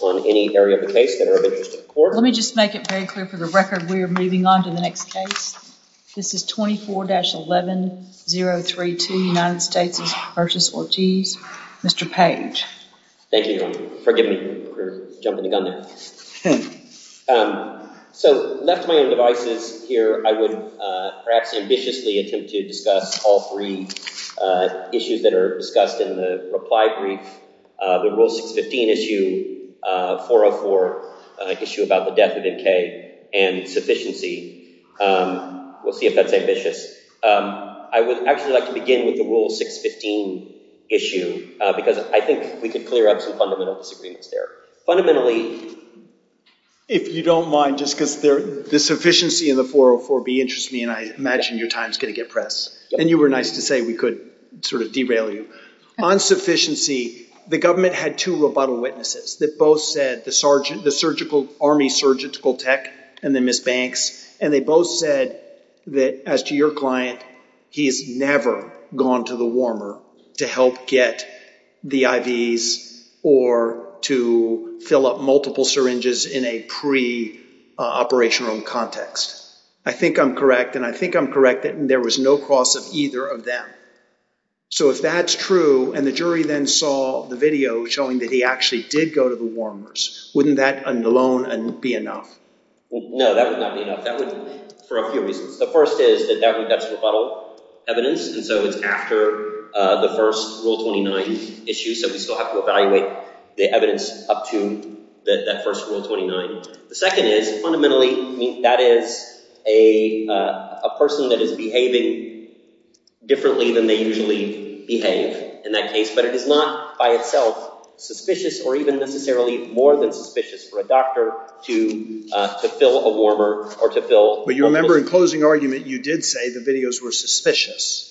on any area of the case that are of interest to the court. Let me just make it very clear for the record we are moving on to the next case. This is 24-11032 United States v. Ortiz. Mr. Page. Thank you, Your Honor. Forgive me for jumping the gun there. So, left to my own devices here, I would perhaps ambitiously attempt to discuss all three issues that are discussed in the reply brief. The Rule 615 issue, 404 issue about the death of M.K. and sufficiency. We'll see if that's ambitious. I would actually like to begin with the Rule 615 issue because I think we could clear up some fundamental disagreements there. Fundamentally, if you don't mind, just because the sufficiency in the 404B interests me, and I imagine your time's going to get pressed, and you were nice to say we could sort of derail you. On sufficiency, the government had two rebuttal witnesses that both said the Army Surgical Tech and then Ms. Banks, and they both said that as to your client, he's never gone to the warmer to help get the IVs or to fill up multiple syringes in a pre- I think I'm correct, and I think I'm correct that there was no cross of either of them. So, if that's true, and the jury then saw the video showing that he actually did go to the warmers, wouldn't that alone be enough? No, that would not be enough. That would, for a few reasons. The first is that that's rebuttal evidence, and so it's after the first Rule 29 issue, so we still have to evaluate the evidence up to that first Rule 29. The second is, fundamentally, that is a person that is behaving differently than they usually behave in that case, but it is not by itself suspicious or even necessarily more than suspicious for a doctor to fill a warmer or to fill- But you remember in closing argument, you did say the videos were suspicious.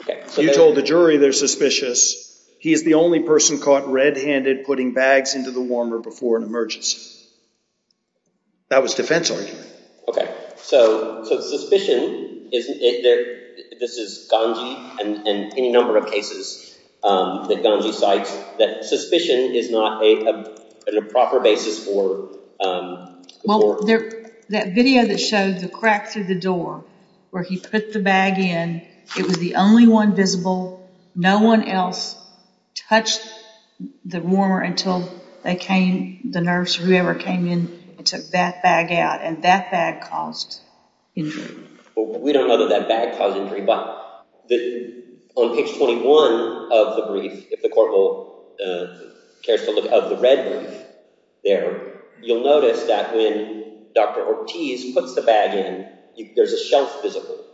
Okay. You told the jury they're suspicious. He is the only person caught red-handed putting bags into the warmer before an emergency. That was defense argument. Okay. So, suspicion, this is Ganji and any number of cases that Ganji cites, that suspicion is not a proper basis for- Well, that video that showed the crack through the door where he put the bag in, it was the only one visible, no one else touched the warmer until they came, the nurse, whoever came in and took that bag out, and that bag caused injury. Well, we don't know that that bag caused injury, but on page 21 of the brief, if the court will, cares to look at the red brief there, you'll notice that when Dr. Ortiz puts the bag in, there's a shelf visible,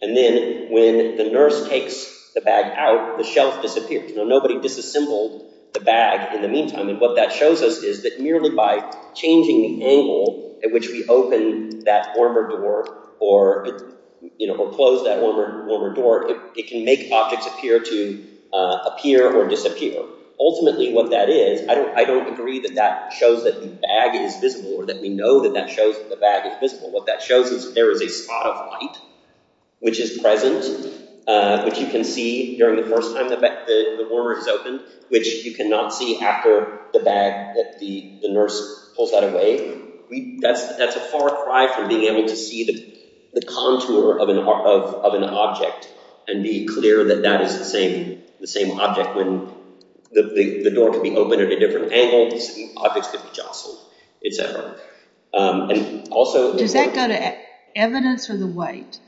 and then when the nurse takes the bag out, the shelf disappears. Nobody disassembled the bag in the meantime, and what that shows us is that merely by changing the angle at which we open that warmer door or close that warmer door, it can make objects appear to appear or disappear. Ultimately, what that is, I don't agree that that shows that the bag is visible or that we know that that shows that the bag is visible. What that shows there is a spot of light, which is present, which you can see during the first time the warmer is open, which you cannot see after the bag that the nurse pulls that away. That's a far cry from being able to see the contour of an object and be clear that that is the same object when the door could be opened at a different angle, the objects could be jostled, et cetera. Does that go to evidence or the weight?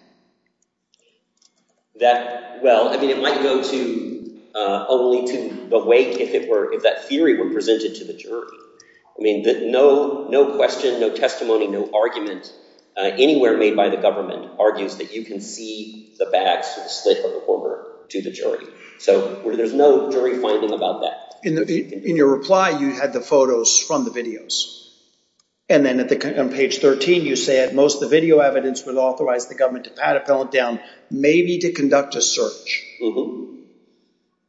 That, well, I mean, it might go to only to the weight if that theory were presented to the jury. I mean, no question, no testimony, no argument anywhere made by the government argues that you can see the bag through the slit of the warmer to the jury, so there's no jury finding about that. In your reply, you had the photos from the videos, and then on page 13, you said most the video evidence would authorize the government to pat a felon down, maybe to conduct a search.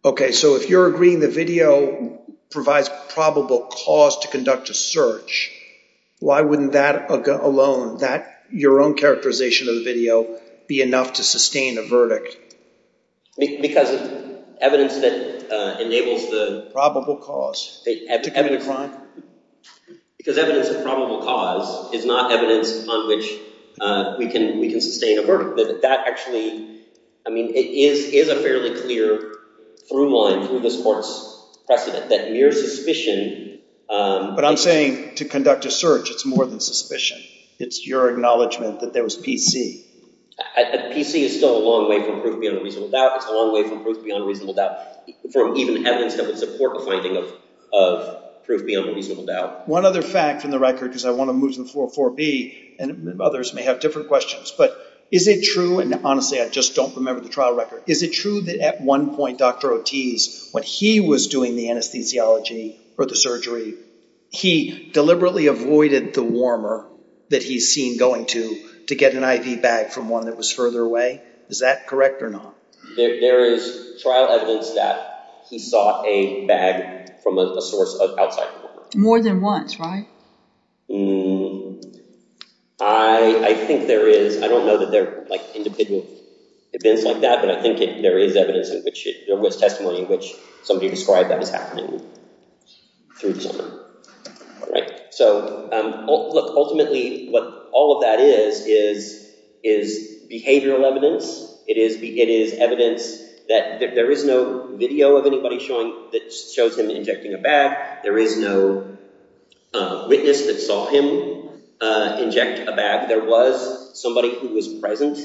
Okay, so if you're agreeing the video provides probable cause to conduct a search, why wouldn't that alone, your own characterization of the video, be enough to sustain a verdict? Because evidence that enables the... Probable cause to commit a crime? Because evidence of probable cause is not evidence on which we can sustain a verdict, that actually, I mean, it is a fairly clear through line through this court's precedent that mere suspicion... But I'm saying to conduct a search, it's more than suspicion. It's your acknowledgement that there was PC. And PC is still a long way from proof beyond a reasonable doubt. It's a long way from proof beyond a reasonable doubt, from even evidence that would support the finding of proof beyond a reasonable doubt. One other fact in the record, because I want to move to the floor 4B, and others may have different questions, but is it true, and honestly, I just don't remember the trial record. Is it true that at one point, Dr. Ortiz, when he was doing the anesthesiology or the surgery, he deliberately avoided the warmer that he's seen going to, to get an IV bag from one that was further away? Is that correct or not? There is trial evidence that he sought a bag from a source of outside warmer. More than once, right? I think there is. I don't know that they're like individual events like that, but I think there is evidence in which there was testimony in which somebody described that as happening through the summer. All right. So look, ultimately, what all of that is, is behavioral evidence. It is evidence that there is no video of anybody showing that shows him injecting a bag. There is no witness that saw him inject a bag. There was somebody who was present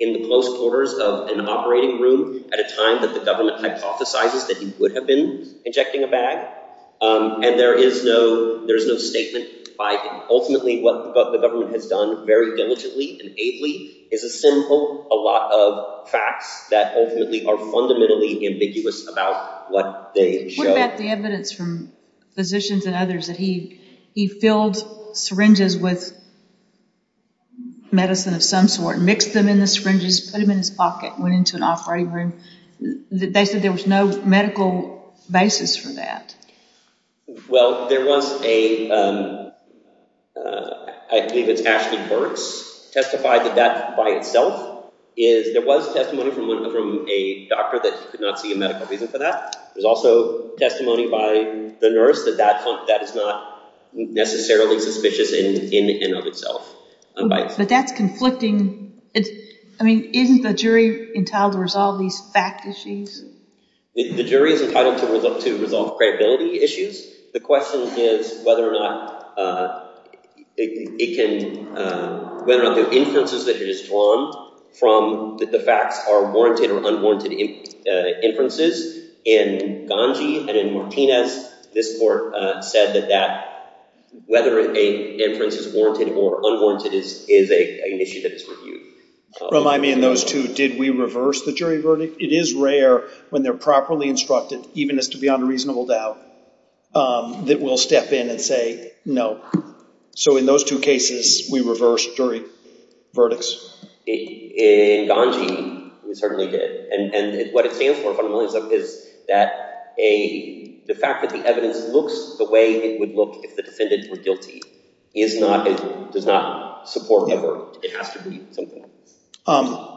in the close quarters of an operating room at a time that the government hypothesizes that he would have been injecting a bag. And there is no statement by him. Ultimately, what the government has done very diligently and ably is assemble a lot of facts that ultimately are fundamentally ambiguous about what they show. What about the evidence from physicians and others that he filled syringes with medicine of some sort, mixed them in the syringes, put them in his pocket, went into an operating room? They said there was no medical basis for that. Well, there was a, I believe it's Ashley Burks, testified that that by itself is, there was testimony from a doctor that he could not see a medical reason for that. There's also testimony by the nurse that that is not necessarily suspicious in and of itself. But that's conflicting. It's, I mean, isn't the jury entitled to resolve these fact issues? The jury is entitled to resolve credibility issues. The question is whether or not it can, whether or not the inferences that it is drawn from the facts are warranted or unwarranted inferences. In Ganji and in Martinez, this court said that whether an inference is warranted or unwarranted is an issue that is reviewed. Remind me in those two, did we reverse the jury verdict? It is rare when they're properly instructed, even as to be unreasonable doubt, that we'll step in and say, no. So in those two cases, we reversed jury verdicts. In Ganji, we certainly did. And what it stands for is that the fact that the evidence looks the way it would look if the defendant were guilty is not, does not support a verdict. It has to be something else. Um,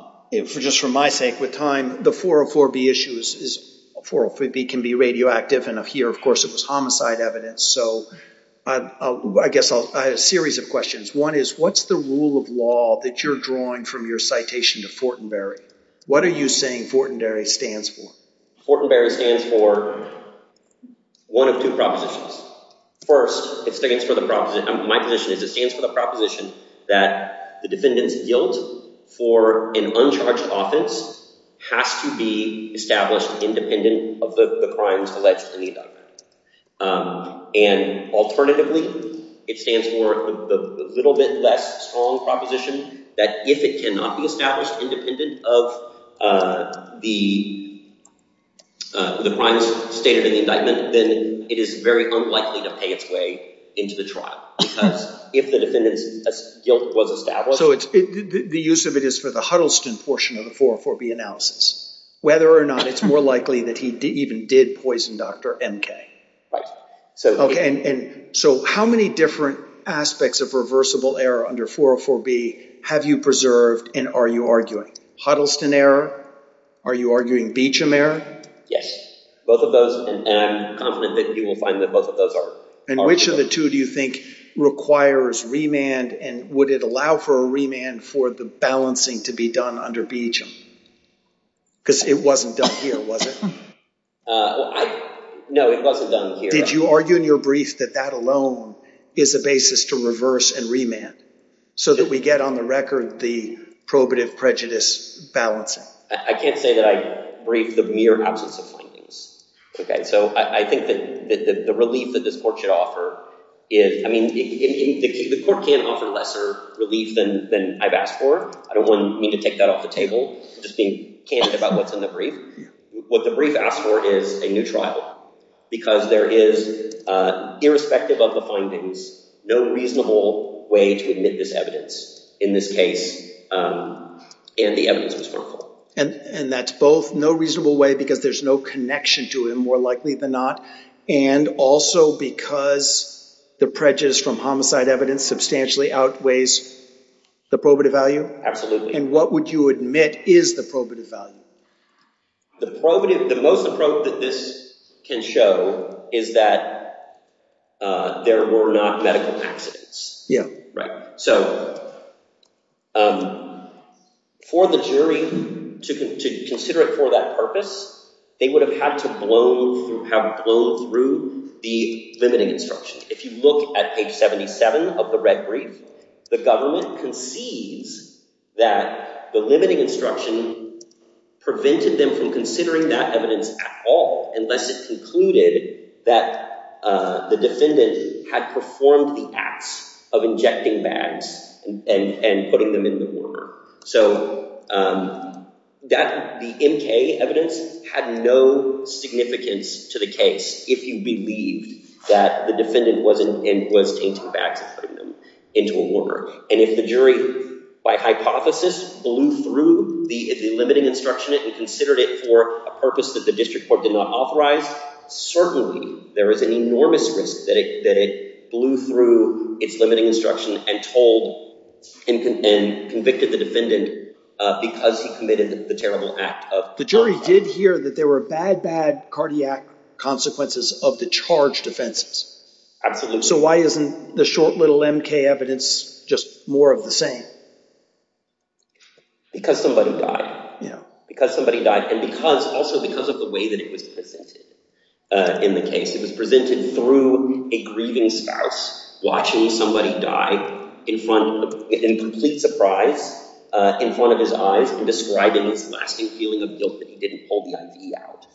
just for my sake, with time, the 404B issue is, 404B can be radioactive. And here, of course, it was homicide evidence. So I guess I'll, I have a series of questions. One is what's the rule of law that you're drawing from your citation to Fortenberry? What are you saying Fortenberry stands for? Fortenberry stands for one of two propositions. First, it stands for the proposition, my position is it stands for the proposition that the defendant's guilt for an uncharged offense has to be established independent of the crimes alleged in the indictment. And alternatively, it stands for the little bit less strong proposition that if it cannot be established independent of the crimes stated in the indictment, then it is very unlikely to pay its way into the trial. Because if the defendant's guilt was established... So it's, the use of it is for the Huddleston portion of the 404B analysis. Whether or not it's more likely that he even did poison Dr. M.K.? Right. So, okay, and so how many different aspects of reversible error under 404B have you preserved and are you arguing? Huddleston error? Are you arguing Beecham error? Yes, both of those and I'm confident that you will find that both of those are... And which of the two do you think requires remand and would it allow for a remand for the balancing to be done under Beecham? Because it wasn't done here, was it? No, it wasn't done here. Did you argue in your brief that that alone is a basis to reverse and remand so that we get on the record the probative prejudice balancing? I can't say that I briefed the mere absence of findings. Okay, so I think that the relief that this court should offer is... I mean, the court can offer lesser relief than I've asked for. I don't want me to take that off the table, just being candid about what's in the brief. What the brief asked for is a new trial. Because there is, irrespective of the findings, no reasonable way to admit this evidence in this case. And the evidence was wrongful. And that's both no reasonable way because there's no connection to him, more likely than not, and also because the prejudice from homicide evidence substantially outweighs the probative value? Absolutely. And what would you admit is the probative value? The probative... The most probative that this can show is that there were not medical accidents. Yeah. Right. So for the jury to consider it for that purpose, they would have had to have blown through the limiting instruction. If you look at page 77 of the red brief, the government concedes that the limiting instruction prevented them from considering that evidence at all, unless it concluded that the defendant had performed the acts of injecting bags and putting them in the warmer. So the MK evidence had no significance to the case if you believed that the defendant was tainting bags and putting them into a warmer. And if the jury, by hypothesis, blew through the limiting instruction and considered it for a purpose that the district court did not authorize, certainly there is an enormous risk that it blew through its limiting instruction and told and convicted the defendant because he committed the terrible act of... The jury did hear that there were bad, bad cardiac consequences of the charged offenses. Absolutely. So why isn't the short little MK evidence just more of the same? Because somebody died. Yeah. Because somebody died. Also because of the way that it was presented in the case. It was presented through a grieving spouse watching somebody die in front... In complete surprise in front of his eyes and describing his lasting feeling of guilt that he didn't pull the IV out.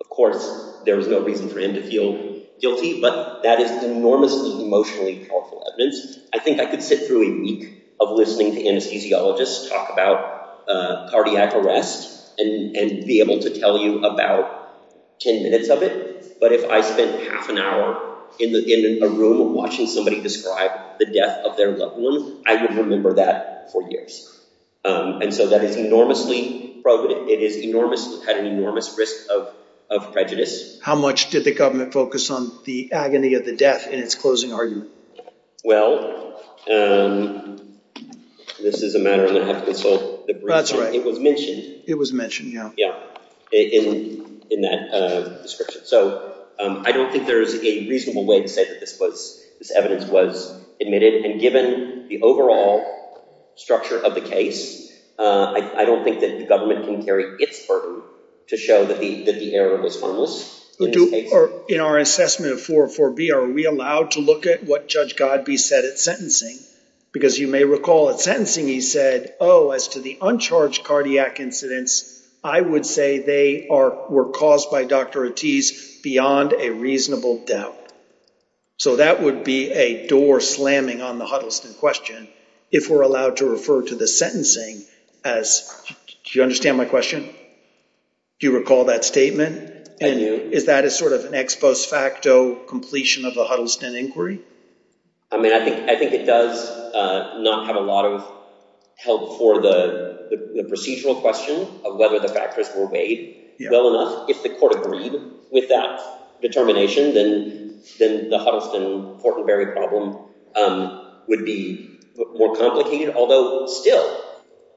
Of course, there was no reason for him to feel guilty, but that is enormously emotionally powerful evidence. I think I could sit through a week of listening to anesthesiologists talk about cardiac arrest and be able to tell you about 10 minutes of it. But if I spent half an hour in a room watching somebody describe the death of their loved one, I would remember that for years. And so that is enormously... It is enormous... Had an enormous risk of prejudice. How much did the government focus on the agony of the death in its closing argument? Well, this is a matter I'm going to have to consult the brief. That's right. It was mentioned. It was mentioned, yeah. Yeah, in that description. So I don't think there's a reasonable way to say that this evidence was admitted. And given the overall structure of the case, I don't think that the government can carry its burden to show that the error was harmless. Or in our assessment of 404B, are we allowed to look at what Judge Godbee said at sentencing? Because you may recall at sentencing, he said, oh, as to the uncharged cardiac incidents, I would say they were caused by Dr. Ortiz beyond a reasonable doubt. So that would be a door slamming on the Huddleston question if we're allowed to refer to the sentencing as... Do you understand my question? Do you recall that statement? I do. Is that a sort of an ex post facto completion of the Huddleston inquiry? I mean, I think it does not have a lot of help for the procedural question of whether the factors were weighed well enough. If the court agreed with that determination, then the Huddleston Fortenberry problem would be more complicated. Although still,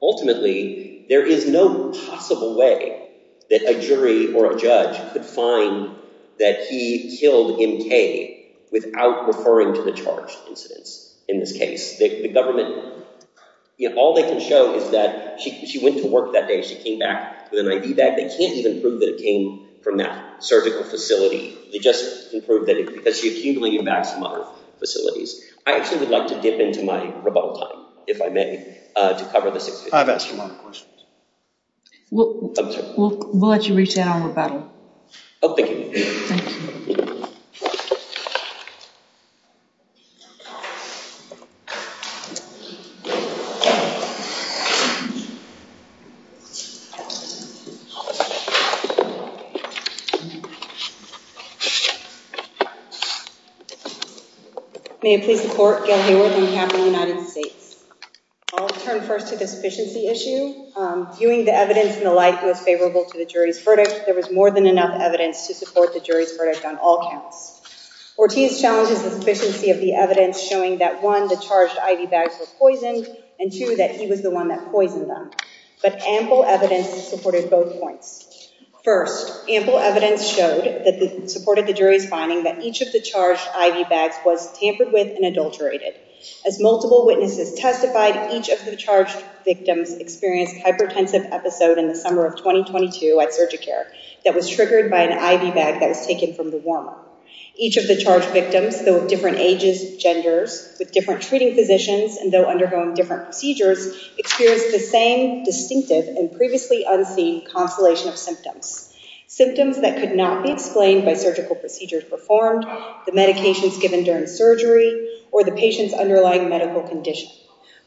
ultimately, there is no possible way that a jury or a judge could find that he killed MK without referring to the charged incidents in this case. All they can show is that she went to work that day. She came back with an ID bag. They can't even prove that it came from that surgical facility. They just can prove that because she accumulated back some other facilities. I actually would like to dip into my rebuttal time, if I may, to cover this. I've asked a lot of questions. I'm sorry. We'll let you reach out on rebuttal. Oh, thank you. May it please the court, Gail Hayworth on behalf of the United States. I'll turn first to the sufficiency issue. Viewing the evidence in the light that was favorable to the jury's verdict, there was more than enough evidence to support the jury's verdict on all counts. Ortiz challenges the sufficiency of the evidence, showing that one, the charged ID bags were poisoned, and two, that he was the one that poisoned them. But ample evidence supported both points. First, ample evidence showed that supported the jury's finding that each of the charged ID bags was tampered with and adulterated. As multiple witnesses testified, each of the charged victims experienced hypertensive episode in the summer of 2022 at Surgicare that was triggered by an IV bag that was taken from the warmer. Each of the charged victims, though of different ages, genders, with different treating physicians, and though undergoing different procedures, experienced the same distinctive and previously unseen constellation of symptoms. Symptoms that could not be explained by surgical procedures performed, the medications given during surgery, or the patient's underlying medical condition.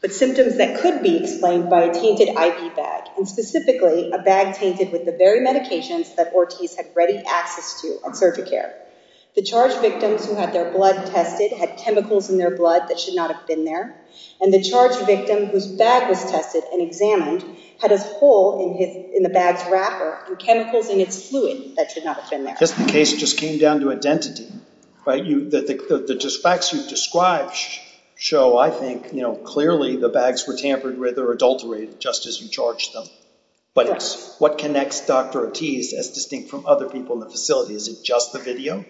But symptoms that could be explained by a tainted IV bag, and specifically a bag tainted with the very medications that Ortiz had ready access to at Surgicare. The charged victims who had their blood tested had chemicals in their blood that should not have been there, and the charged victim whose bag was tested and examined had a hole in the bag's wrapper and chemicals in its fluid that should not have been there. The case just came down to identity. The facts you've described show, I think, clearly the bags were tampered with or adulterated just as you charged them. But what connects Dr. Ortiz as distinct from other people in the facility? Is it just the video?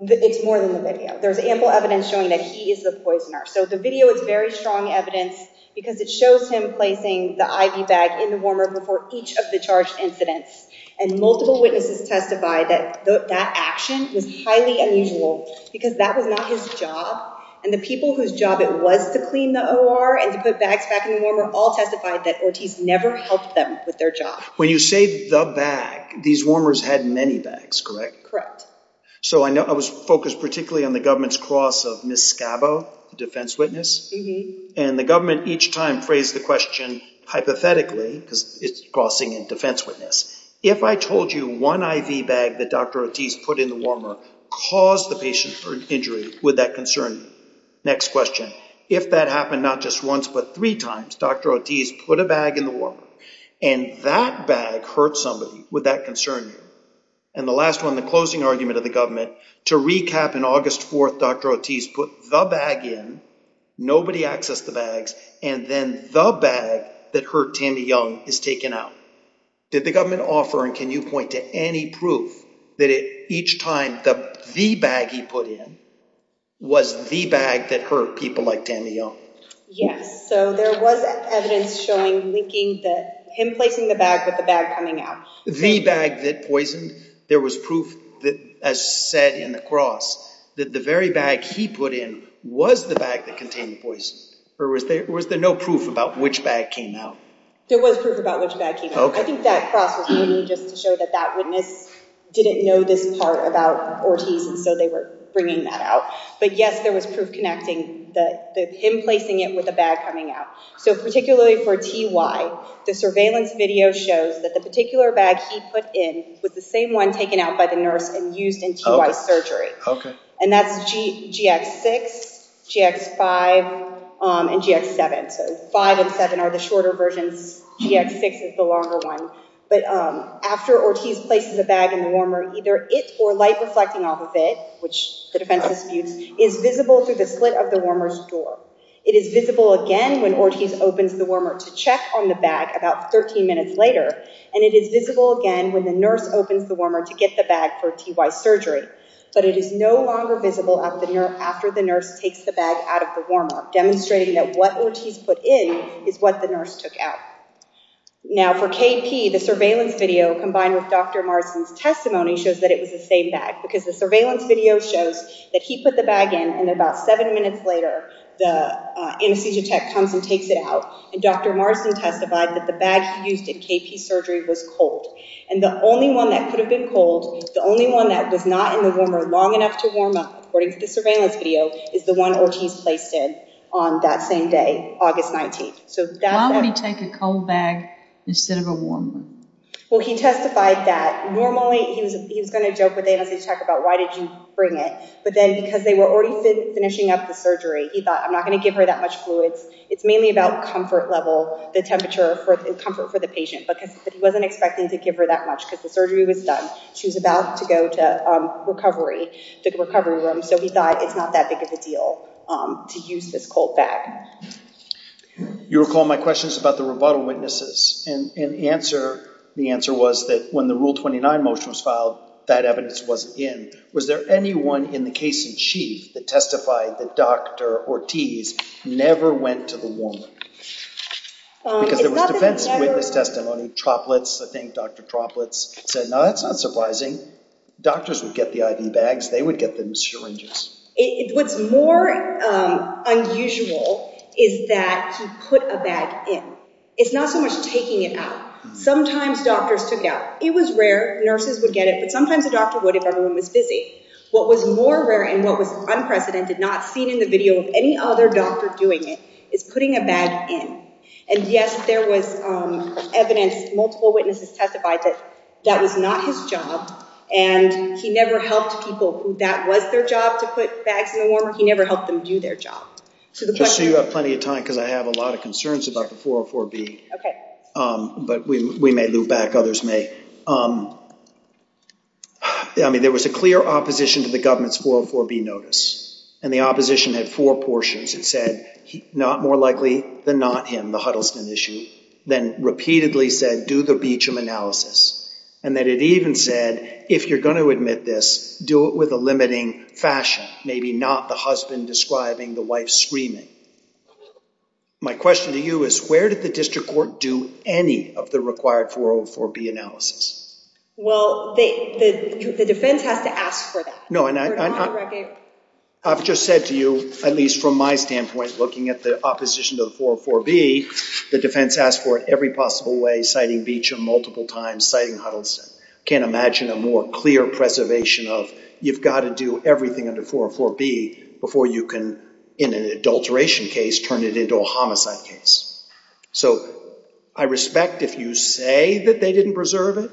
It's more than the video. There's ample evidence showing that he is the poisoner. So the video is very strong evidence because it shows him placing the IV bag in the warmer before each of the charged incidents. And multiple witnesses testified that that action was highly unusual because that was not his job. And the people whose job it was to clean the OR and to put bags back in the warmer all testified that Ortiz never helped them with their job. When you say the bag, these warmers had many bags, correct? Correct. So I know I was focused particularly on the government's cross of Ms. Scavo, the defense witness. And the government each time phrased the question hypothetically because it's crossing in defense witness. If I told you one IV bag that Dr. Ortiz put in the warmer caused the patient for injury, would that concern you? Next question. If that happened not just once, but three times, Dr. Ortiz put a bag in the warmer and that bag hurt somebody, would that concern you? And the last one, the closing argument of the government to recap in August 4th, Dr. Ortiz put the bag in, nobody accessed the bags and then the bag that hurt Tammy Young is taken out. Did the government offer and can you point to any proof that each time the bag he put in was the bag that hurt people like Tammy Young? Yes, so there was evidence showing linking that him placing the bag with the bag coming out. The bag that poisoned, there was proof that as said in the cross that the very bag he put in was the bag that contained the poison or was there no proof about which bag came out? There was proof about which bag came out. I think that cross was just to show that that witness didn't know this part about Ortiz and so they were bringing that out. But yes, there was proof connecting that him placing it with a bag coming out. So particularly for TY, the surveillance video shows that the particular bag he put in was the same one taken out by the nurse and used in TY surgery. And that's GX6, GX5 and GX7. So 5 and 7 are the shorter versions, GX6 is the longer one. But after Ortiz places a bag in the warmer, either it or light reflecting off of it, which the defense disputes, is visible through the slit of the warmer's door. It is visible again when Ortiz opens the warmer to check on the bag about 13 minutes later and it is visible again when the nurse opens the warmer to get the bag for TY surgery. But it is no longer visible after the nurse takes the bag out of the warmer, demonstrating that what Ortiz put in is what the nurse took out. Now for KP, the surveillance video combined with Dr. Marsden's testimony shows that it was the same bag because the surveillance video shows that he put the bag in and about seven minutes later, the anesthesia tech comes and takes it out and Dr. Marsden testified that the bag he used in KP surgery was cold. And the only one that could have been cold, the only one that was not in the warmer long enough to warm up, according to the surveillance video, is the one Ortiz placed in. On that same day, August 19th. So why would he take a cold bag instead of a warmer? Well, he testified that normally, he was going to joke with the anesthesia tech about why did you bring it? But then because they were already finishing up the surgery, he thought I'm not going to give her that much fluids. It's mainly about comfort level, the temperature and comfort for the patient because he wasn't expecting to give her that much because the surgery was done. She was about to go to recovery, to the recovery room. So he thought it's not that big of a deal to use this cold bag. You recall my questions about the rebuttal witnesses and the answer was that when the Rule 29 motion was filed, that evidence wasn't in. Was there anyone in the case in chief that testified that Dr. Ortiz never went to the warmer? Because there was defense witness testimony, droplets, I think Dr. Droplets said, no, that's not surprising. Doctors would get the IV bags. They would get them syringes. What's more unusual is that he put a bag in. It's not so much taking it out. Sometimes doctors took it out. It was rare. Nurses would get it, but sometimes the doctor would if everyone was busy. What was more rare and what was unprecedented, not seen in the video of any other doctor doing it is putting a bag in. And yes, there was evidence, multiple witnesses testified that that was not his job and he never helped people that was their job to put bags in the warmer. He never helped them do their job. Just so you have plenty of time because I have a lot of concerns about the 404B. But we may loop back, others may. I mean, there was a clear opposition to the government's 404B notice and the opposition had four portions. It said not more likely than not him, the Huddleston issue, then repeatedly said do the Beecham analysis and that it even said if you're going to admit this, do it with a limiting fashion, maybe not the husband describing the wife screaming. My question to you is where did the district court do any of the required 404B analysis? Well, the defense has to ask for that. No, and I've just said to you, at least from my standpoint, looking at the opposition to the 404B, the defense asked for it every possible way, citing Beecham multiple times, citing Huddleston. Can't imagine a more clear preservation of, you've got to do everything under 404B before you can, in an adulteration case, turn it into a homicide case. So I respect if you say that they didn't preserve it,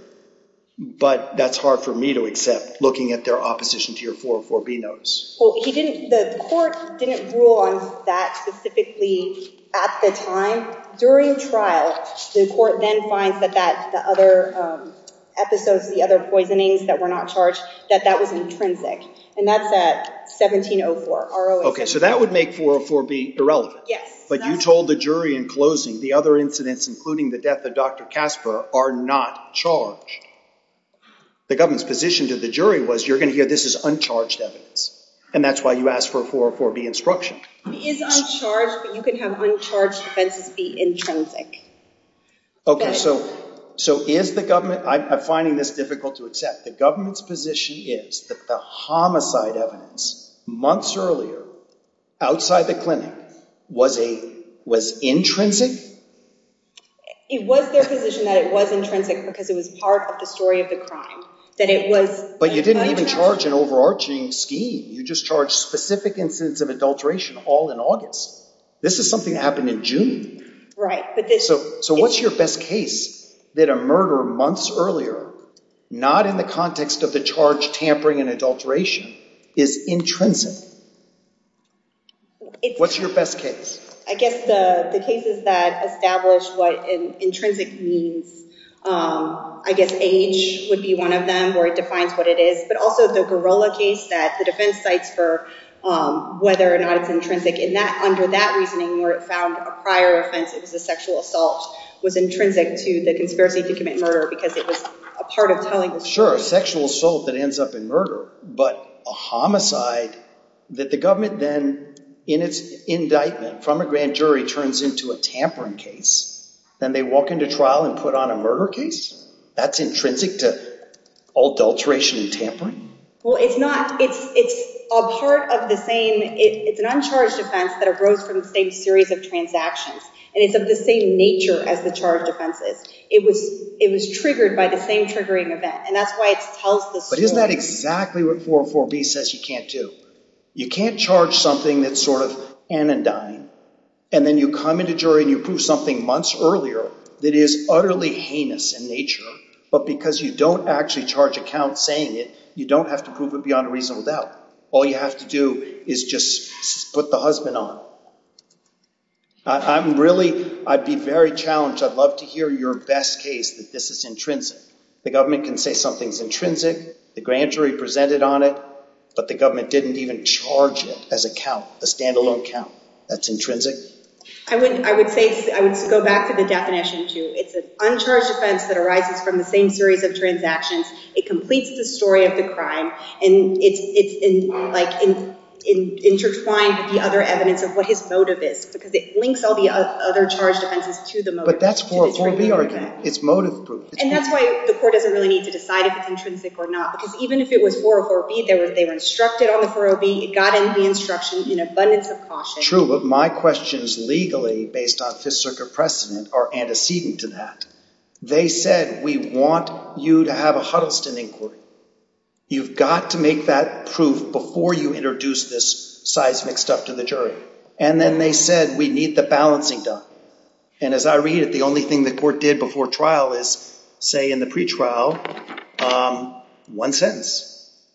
but that's hard for me to accept looking at their opposition to your 404B notice. Well, the court didn't rule on that specifically at the time. During trial, the court then finds that the other episodes, the other poisonings that were not charged, that that was intrinsic. And that's at 1704. Okay, so that would make 404B irrelevant. Yes. But you told the jury in closing, the other incidents, including the death of Dr. Casper, are not charged. The government's position to the jury was, you're going to hear this is uncharged evidence. And that's why you asked for a 404B instruction. It is uncharged, but you can have uncharged offenses be intrinsic. Okay, so is the government... I'm finding this difficult to accept. The government's position is that the homicide evidence months earlier, outside the clinic, was intrinsic? It was their position that it was intrinsic because it was part of the story of the crime. That it was... But you didn't even charge an overarching scheme. You just charged specific incidents of adulteration all in August. This is something that happened in June. Right. So what's your best case that a murder months earlier, not in the context of the charge, tampering and adulteration, is intrinsic? What's your best case? I guess the cases that establish what an intrinsic means, I guess age would be one of them, where it defines what it is. But also the Gorilla case that the defense cites for whether or not it's intrinsic. And under that reasoning, where it found a prior offense, a sexual assault, was intrinsic to the conspiracy to commit murder because it was a part of telling... Sure, sexual assault that ends up in murder. But a homicide that the government then, in its indictment from a grand jury, turns into a tampering case. Then they walk into trial and put on a murder case? That's intrinsic to adulteration and tampering? Well, it's not. It's a part of the same... It's an uncharged offense that arose from the same series of transactions. And it's of the same nature as the charged offenses. It was triggered by the same triggering event. And that's why it tells the story. But isn't that exactly what 404b says you can't do? You can't charge something that's sort of anodyne. And then you come into jury and you prove something months earlier that is utterly heinous in nature. But because you don't actually charge a count saying it, you don't have to prove it beyond a reasonable doubt. All you have to do is just put the husband on. I'm really... I'd be very challenged. I'd love to hear your best case that this is intrinsic. The government can say something's intrinsic, the grand jury presented on it, but the government didn't even charge it as a count, a standalone count. That's intrinsic? I would say... I would go back to the definition, too. It's an uncharged offense that arises from the same series of transactions. It completes the story of the crime. And it's intertwined with the other evidence of crime. Because it links all the other charged offenses to the motive. But that's 404B argument. It's motive proof. And that's why the court doesn't really need to decide if it's intrinsic or not. Because even if it was 404B, they were instructed on the 40B. It got in the instruction in abundance of caution. True, but my questions legally, based on Fifth Circuit precedent, are antecedent to that. They said, we want you to have a Huddleston inquiry. You've got to make that proof before you introduce this seismic stuff to the jury. And then they said, we need the balancing done. And as I read it, the only thing the court did before trial is, say in the pre-trial, one sentence.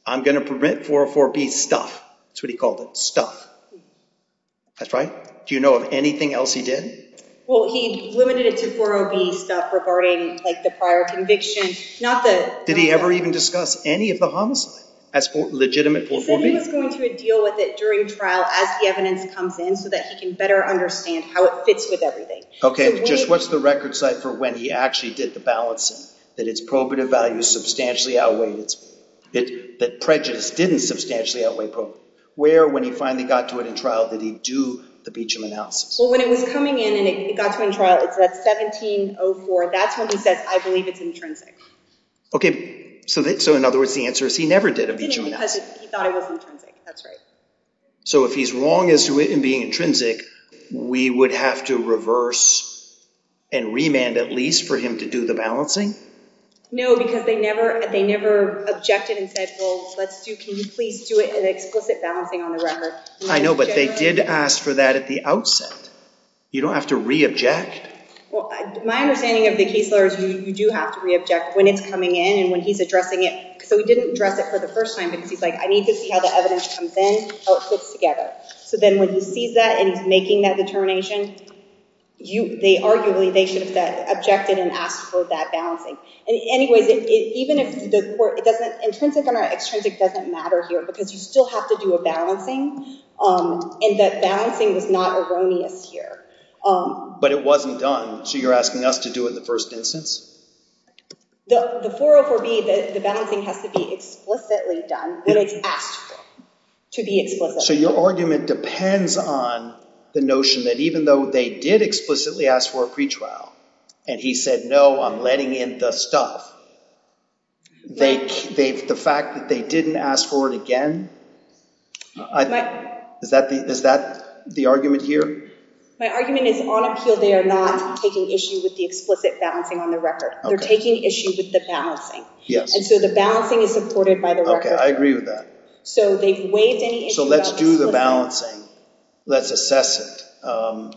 I'm going to prevent 404B stuff. That's what he called it, stuff. That's right. Do you know of anything else he did? Well, he limited it to 40B stuff regarding the prior conviction. Did he ever even discuss any of the homicide as legitimate 404B? He said he was going to deal with it during trial as the evidence comes in. So that he can better understand how it fits with everything. OK, just what's the record site for when he actually did the balancing? That it's probative value substantially outweighed. That prejudice didn't substantially outweigh probative. Where, when he finally got to it in trial, did he do the Beecham analysis? Well, when it was coming in and it got to in trial, it's at 1704. That's when he says, I believe it's intrinsic. OK, so in other words, the answer is he never did a Beecham analysis. He didn't because he thought it was intrinsic. That's right. So if he's wrong as to it being intrinsic, we would have to reverse and remand at least for him to do the balancing? No, because they never objected and said, well, let's do, can you please do it an explicit balancing on the record? I know, but they did ask for that at the outset. You don't have to re-object. Well, my understanding of the case law is you do have to re-object when it's coming in and when he's addressing it. So he didn't address it for the first time because he's like, I need to see how the evidence comes in, how it fits together. So then when he sees that and he's making that determination, they arguably, they should have objected and asked for that balancing. And anyways, even if the court, it doesn't, intrinsic and extrinsic doesn't matter here because you still have to do a balancing and that balancing was not erroneous here. But it wasn't done. So you're asking us to do it in the first instance? The 404B, the balancing has to be explicitly done when it's asked for, to be explicit. So your argument depends on the notion that even though they did explicitly ask for a pretrial and he said, no, I'm letting in the stuff, the fact that they didn't ask for it again, is that the argument here? My argument is on appeal, they are not taking issue with the explicit balancing on the record. They're taking issue with the balancing. And so the balancing is supported by the record. Okay, I agree with that. So they've waived any issue. So let's do the balancing. Let's assess it.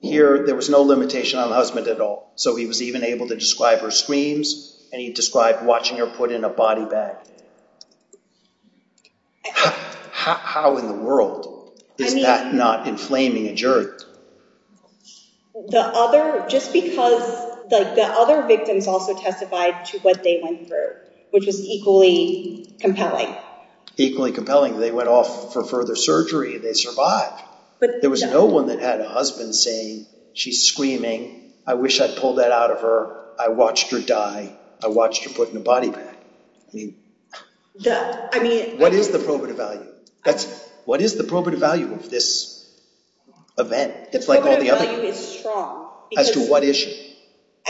Here, there was no limitation on the husband at all. So he was even able to describe her screams and he described watching her put in a body bag. How in the world is that not inflaming a jury? The other, just because like the other victims also testified to what they went through, which was equally compelling. Equally compelling. They went off for further surgery. They survived. But there was no one that had a husband saying, she's screaming. I wish I'd pulled that out of her. I watched her die. I watched her put in a body bag. What is the probative value? That's what is the probative value of this event? It's like all the other... Probative value is strong. As to what issue?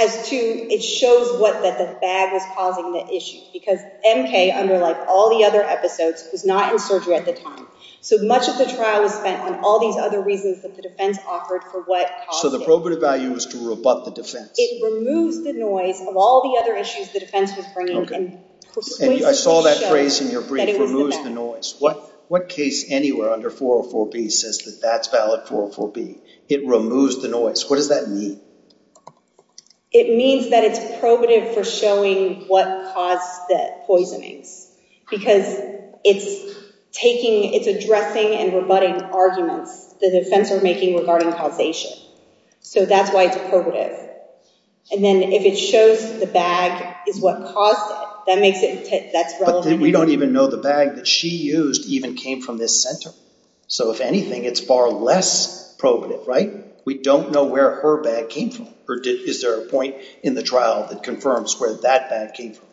As to, it shows what that the bag was causing the issue. Because MK, under like all the other episodes, was not in surgery at the time. So much of the trial was spent on all these other reasons that the defense offered for what caused it. So the probative value was to rebut the defense. It removes the noise of all the other issues the defense was bringing. Okay. I saw that phrase in your brief, removes the noise. What case anywhere under 404B says that that's valid 404B? It removes the noise. What does that mean? It means that it's probative for showing what caused the poisonings. Because it's addressing and rebutting arguments the defense are making regarding causation. So that's why it's probative. And then if it shows the bag is what caused it, that makes it, that's relevant. We don't even know the bag that she used even came from this center. So if anything, it's far less probative, right? We don't know where her bag came from or is there a point in the trial that confirms where that bag came from?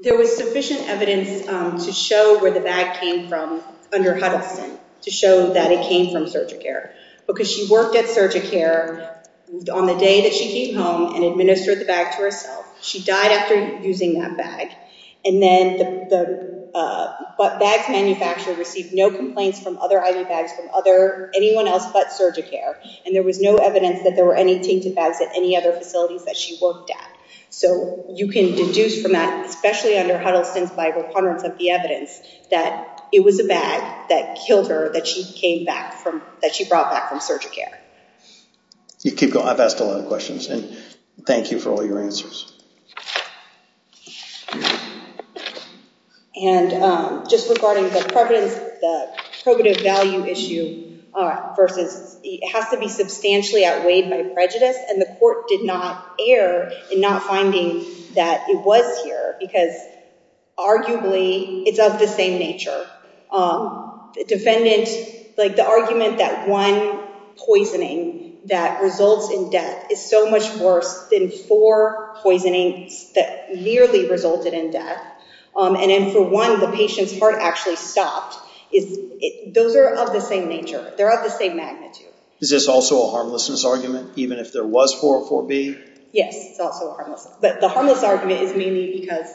There was sufficient evidence to show where the bag came from under Huddleston to show that it came from Surgicare. Because she worked at Surgicare on the day that she came home and administered the bag to herself. She died after using that bag. And then the bag's manufacturer received no complaints from other IV bags from anyone else but Surgicare. And there was no evidence that there were any tainted bags at any other facilities that she worked at. So you can deduce from that, especially under Huddleston's by reponderance of the evidence that it was a bag that killed her that she came back from, that she brought back from Surgicare. You keep going, I've asked a lot of questions and thank you for all your answers. And just regarding the provative value issue versus, it has to be substantially outweighed by prejudice and the court did not err in not finding that it was here because arguably it's of the same nature. Defendant, like the argument that one poisoning that results in death is so much worse than four poisonings that merely resulted in death. And then for one, the patient's heart actually stopped. Those are of the same nature. They're of the same magnitude. Is this also a harmlessness argument? Even if there was 404B? Yes, it's also a harmlessness. But the harmless argument is mainly because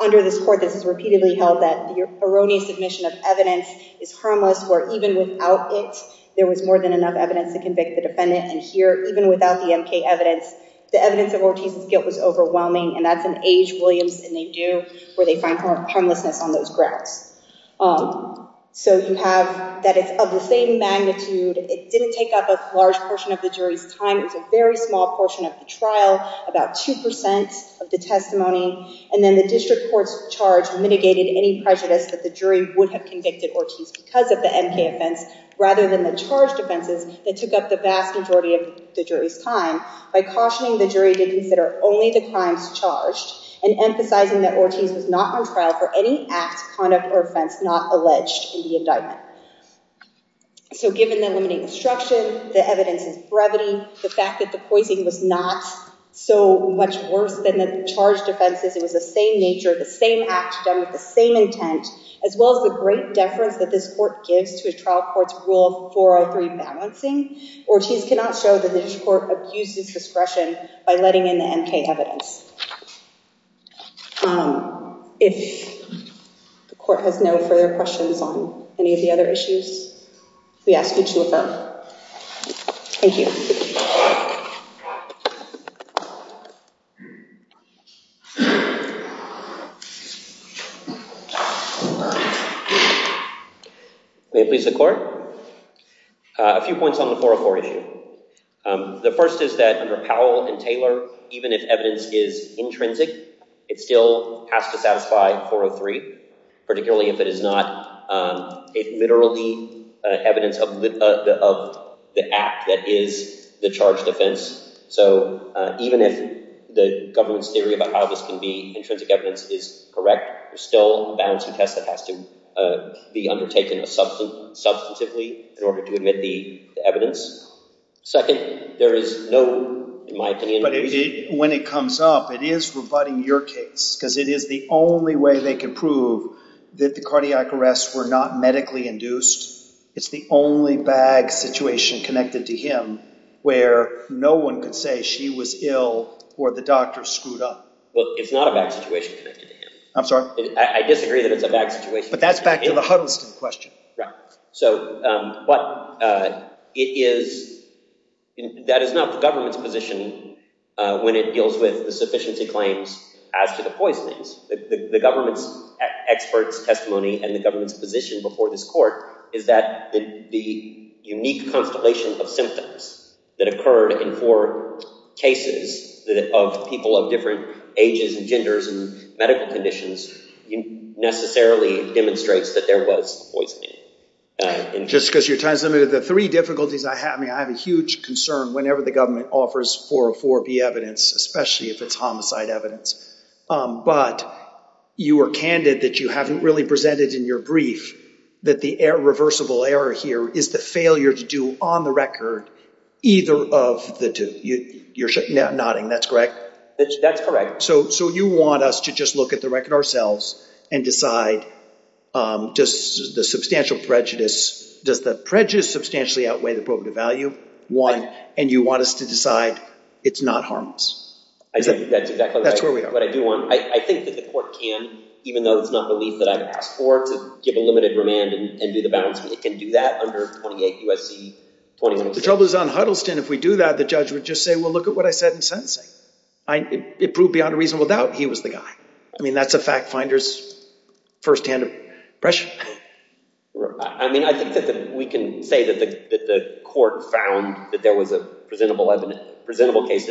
under this court, this is repeatedly held that your erroneous submission of evidence is harmless where even without it, there was more than enough evidence to convict the defendant. And here, even without the MK evidence, the evidence of Ortiz's guilt was overwhelming and that's an age Williams and they do where they find harmlessness on those grounds. So you have that it's of the same magnitude. It didn't take up a large portion of the jury's time it was a very small portion of the trial, about 2% of the testimony. And then the district court's charge mitigated any prejudice that the jury would have convicted Ortiz because of the MK offense rather than the charged offenses that took up the vast majority of the jury's time by cautioning the jury to consider only the crimes charged and emphasizing that Ortiz was not on trial for any act, conduct or offense not alleged in the indictment. So given the limiting instruction, the evidence is brevity, the fact that the poisoning was not so much worse than the charged offenses, it was the same nature of the same act done with the same intent as well as the great deference that this court gives to a trial court's rule of 403 balancing, Ortiz cannot show that the district court abuses discretion by letting in the MK evidence. If the court has no further questions on any of the other issues, we ask you to affirm. Thank you. May it please the court. A few points on the 404 issue. The first is that under Powell and Taylor, even if evidence is intrinsic, it still has to satisfy 403, particularly if it is not a literally evidence of the act that is the charged offense. So even if the government's theory about how this can be intrinsic evidence is correct, there's still a balancing test that has to be undertaken substantively in order to admit the evidence. Second, there is no, in my opinion... But when it comes up, it is rebutting your case because it is the only way they can prove that the cardiac arrests were not medically induced. It's the only bag situation connected to him where no one could say she was ill or the doctor screwed up. Well, it's not a bag situation connected to him. I'm sorry? I disagree that it's a bag situation. But that's back to the Huddleston question. Right. So, but it is... That is not the government's position when it deals with the sufficiency claims as to the poisonings. The government's experts testimony and the government's position before this court is that the unique constellation of symptoms that occurred in four cases of people of different ages and genders and medical conditions necessarily demonstrates that there was poisoning. Just because your time is limited. The three difficulties I have, I mean, I have a huge concern whenever the government offers 404B evidence, especially if it's homicide evidence. But you were candid that you haven't really presented in your brief that the irreversible error here is the failure to do on the record either of the two. You're nodding, that's correct? That's correct. So you want us to just look at the record ourselves and decide just the substantial prejudice. Does the prejudice substantially outweigh the probative value? One. And you want us to decide it's not harmless. That's exactly right. I think that the court can, even though it's not the leaf that I've asked for, to give a limited remand and do the balancing. It can do that under 28 U.S.C. 21. The trouble is on Huddleston, if we do that, the judge would just say, well, look at what I said in sentencing. It proved beyond a reasonable doubt he was the guy. I mean, that's a fact finder's firsthand impression. I mean, I think that we can say that the court found that there was a presentable case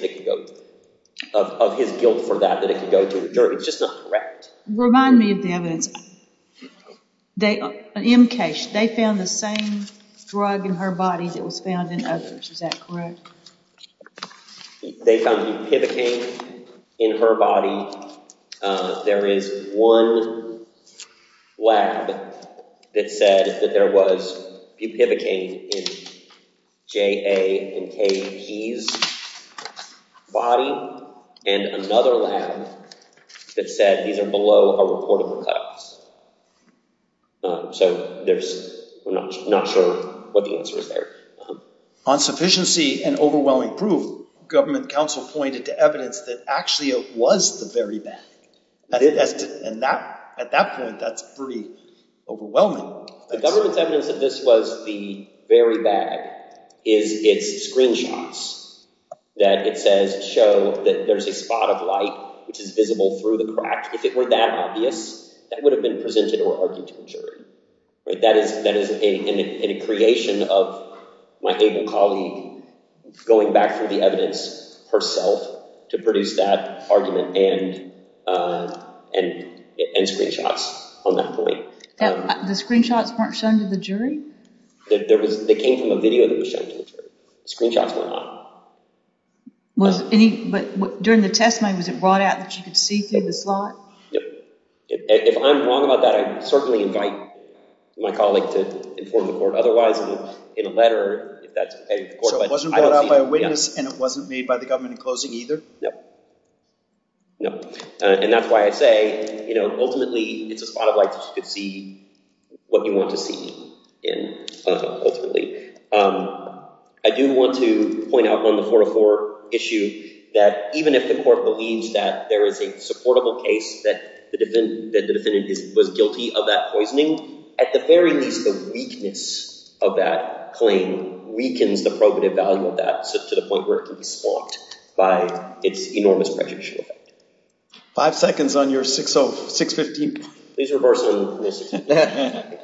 of his guilt for that, that it could go to a jury. It's just not correct. Remind me of the evidence. M. Cash, they found the same drug in her body that was found in others. Is that correct? They found bupivacaine in her body. There is one lab that said that there was bupivacaine in J.A. and K.P.'s body and another lab that said these are below a reportable cause. So there's, I'm not sure what the answer is there. On sufficiency and overwhelming proof, government counsel pointed to evidence that actually it was the very bad. At that point, that's pretty overwhelming. The government's evidence that this was the very bad is its screenshots that it says show that there's a spot of light which is visible through the crack. If it were that obvious, that would have been presented or argued to a jury. That is a creation of my able colleague going back through the evidence herself to produce that argument and screenshots on that point. The screenshots weren't shown to the jury? They came from a video that was shown to the jury. Screenshots were not. But during the testimony, was it brought out that you could see through the slot? If I'm wrong about that, I'd certainly invite my colleague to inform the court otherwise in a letter. So it wasn't brought out by a witness and it wasn't made by the government in closing either? No. And that's why I say, ultimately, it's a spot of light that you could see what you want to see ultimately. I do want to point out on the 404 issue that even if the court believes that there is a supportable case that the defendant was guilty of that poisoning, at the very least, the weakness of that claim weakens the probative value of that to the point where it can be spot by its enormous prejudicial effect. Five seconds on your 615 point. Please reverse it. Thank you.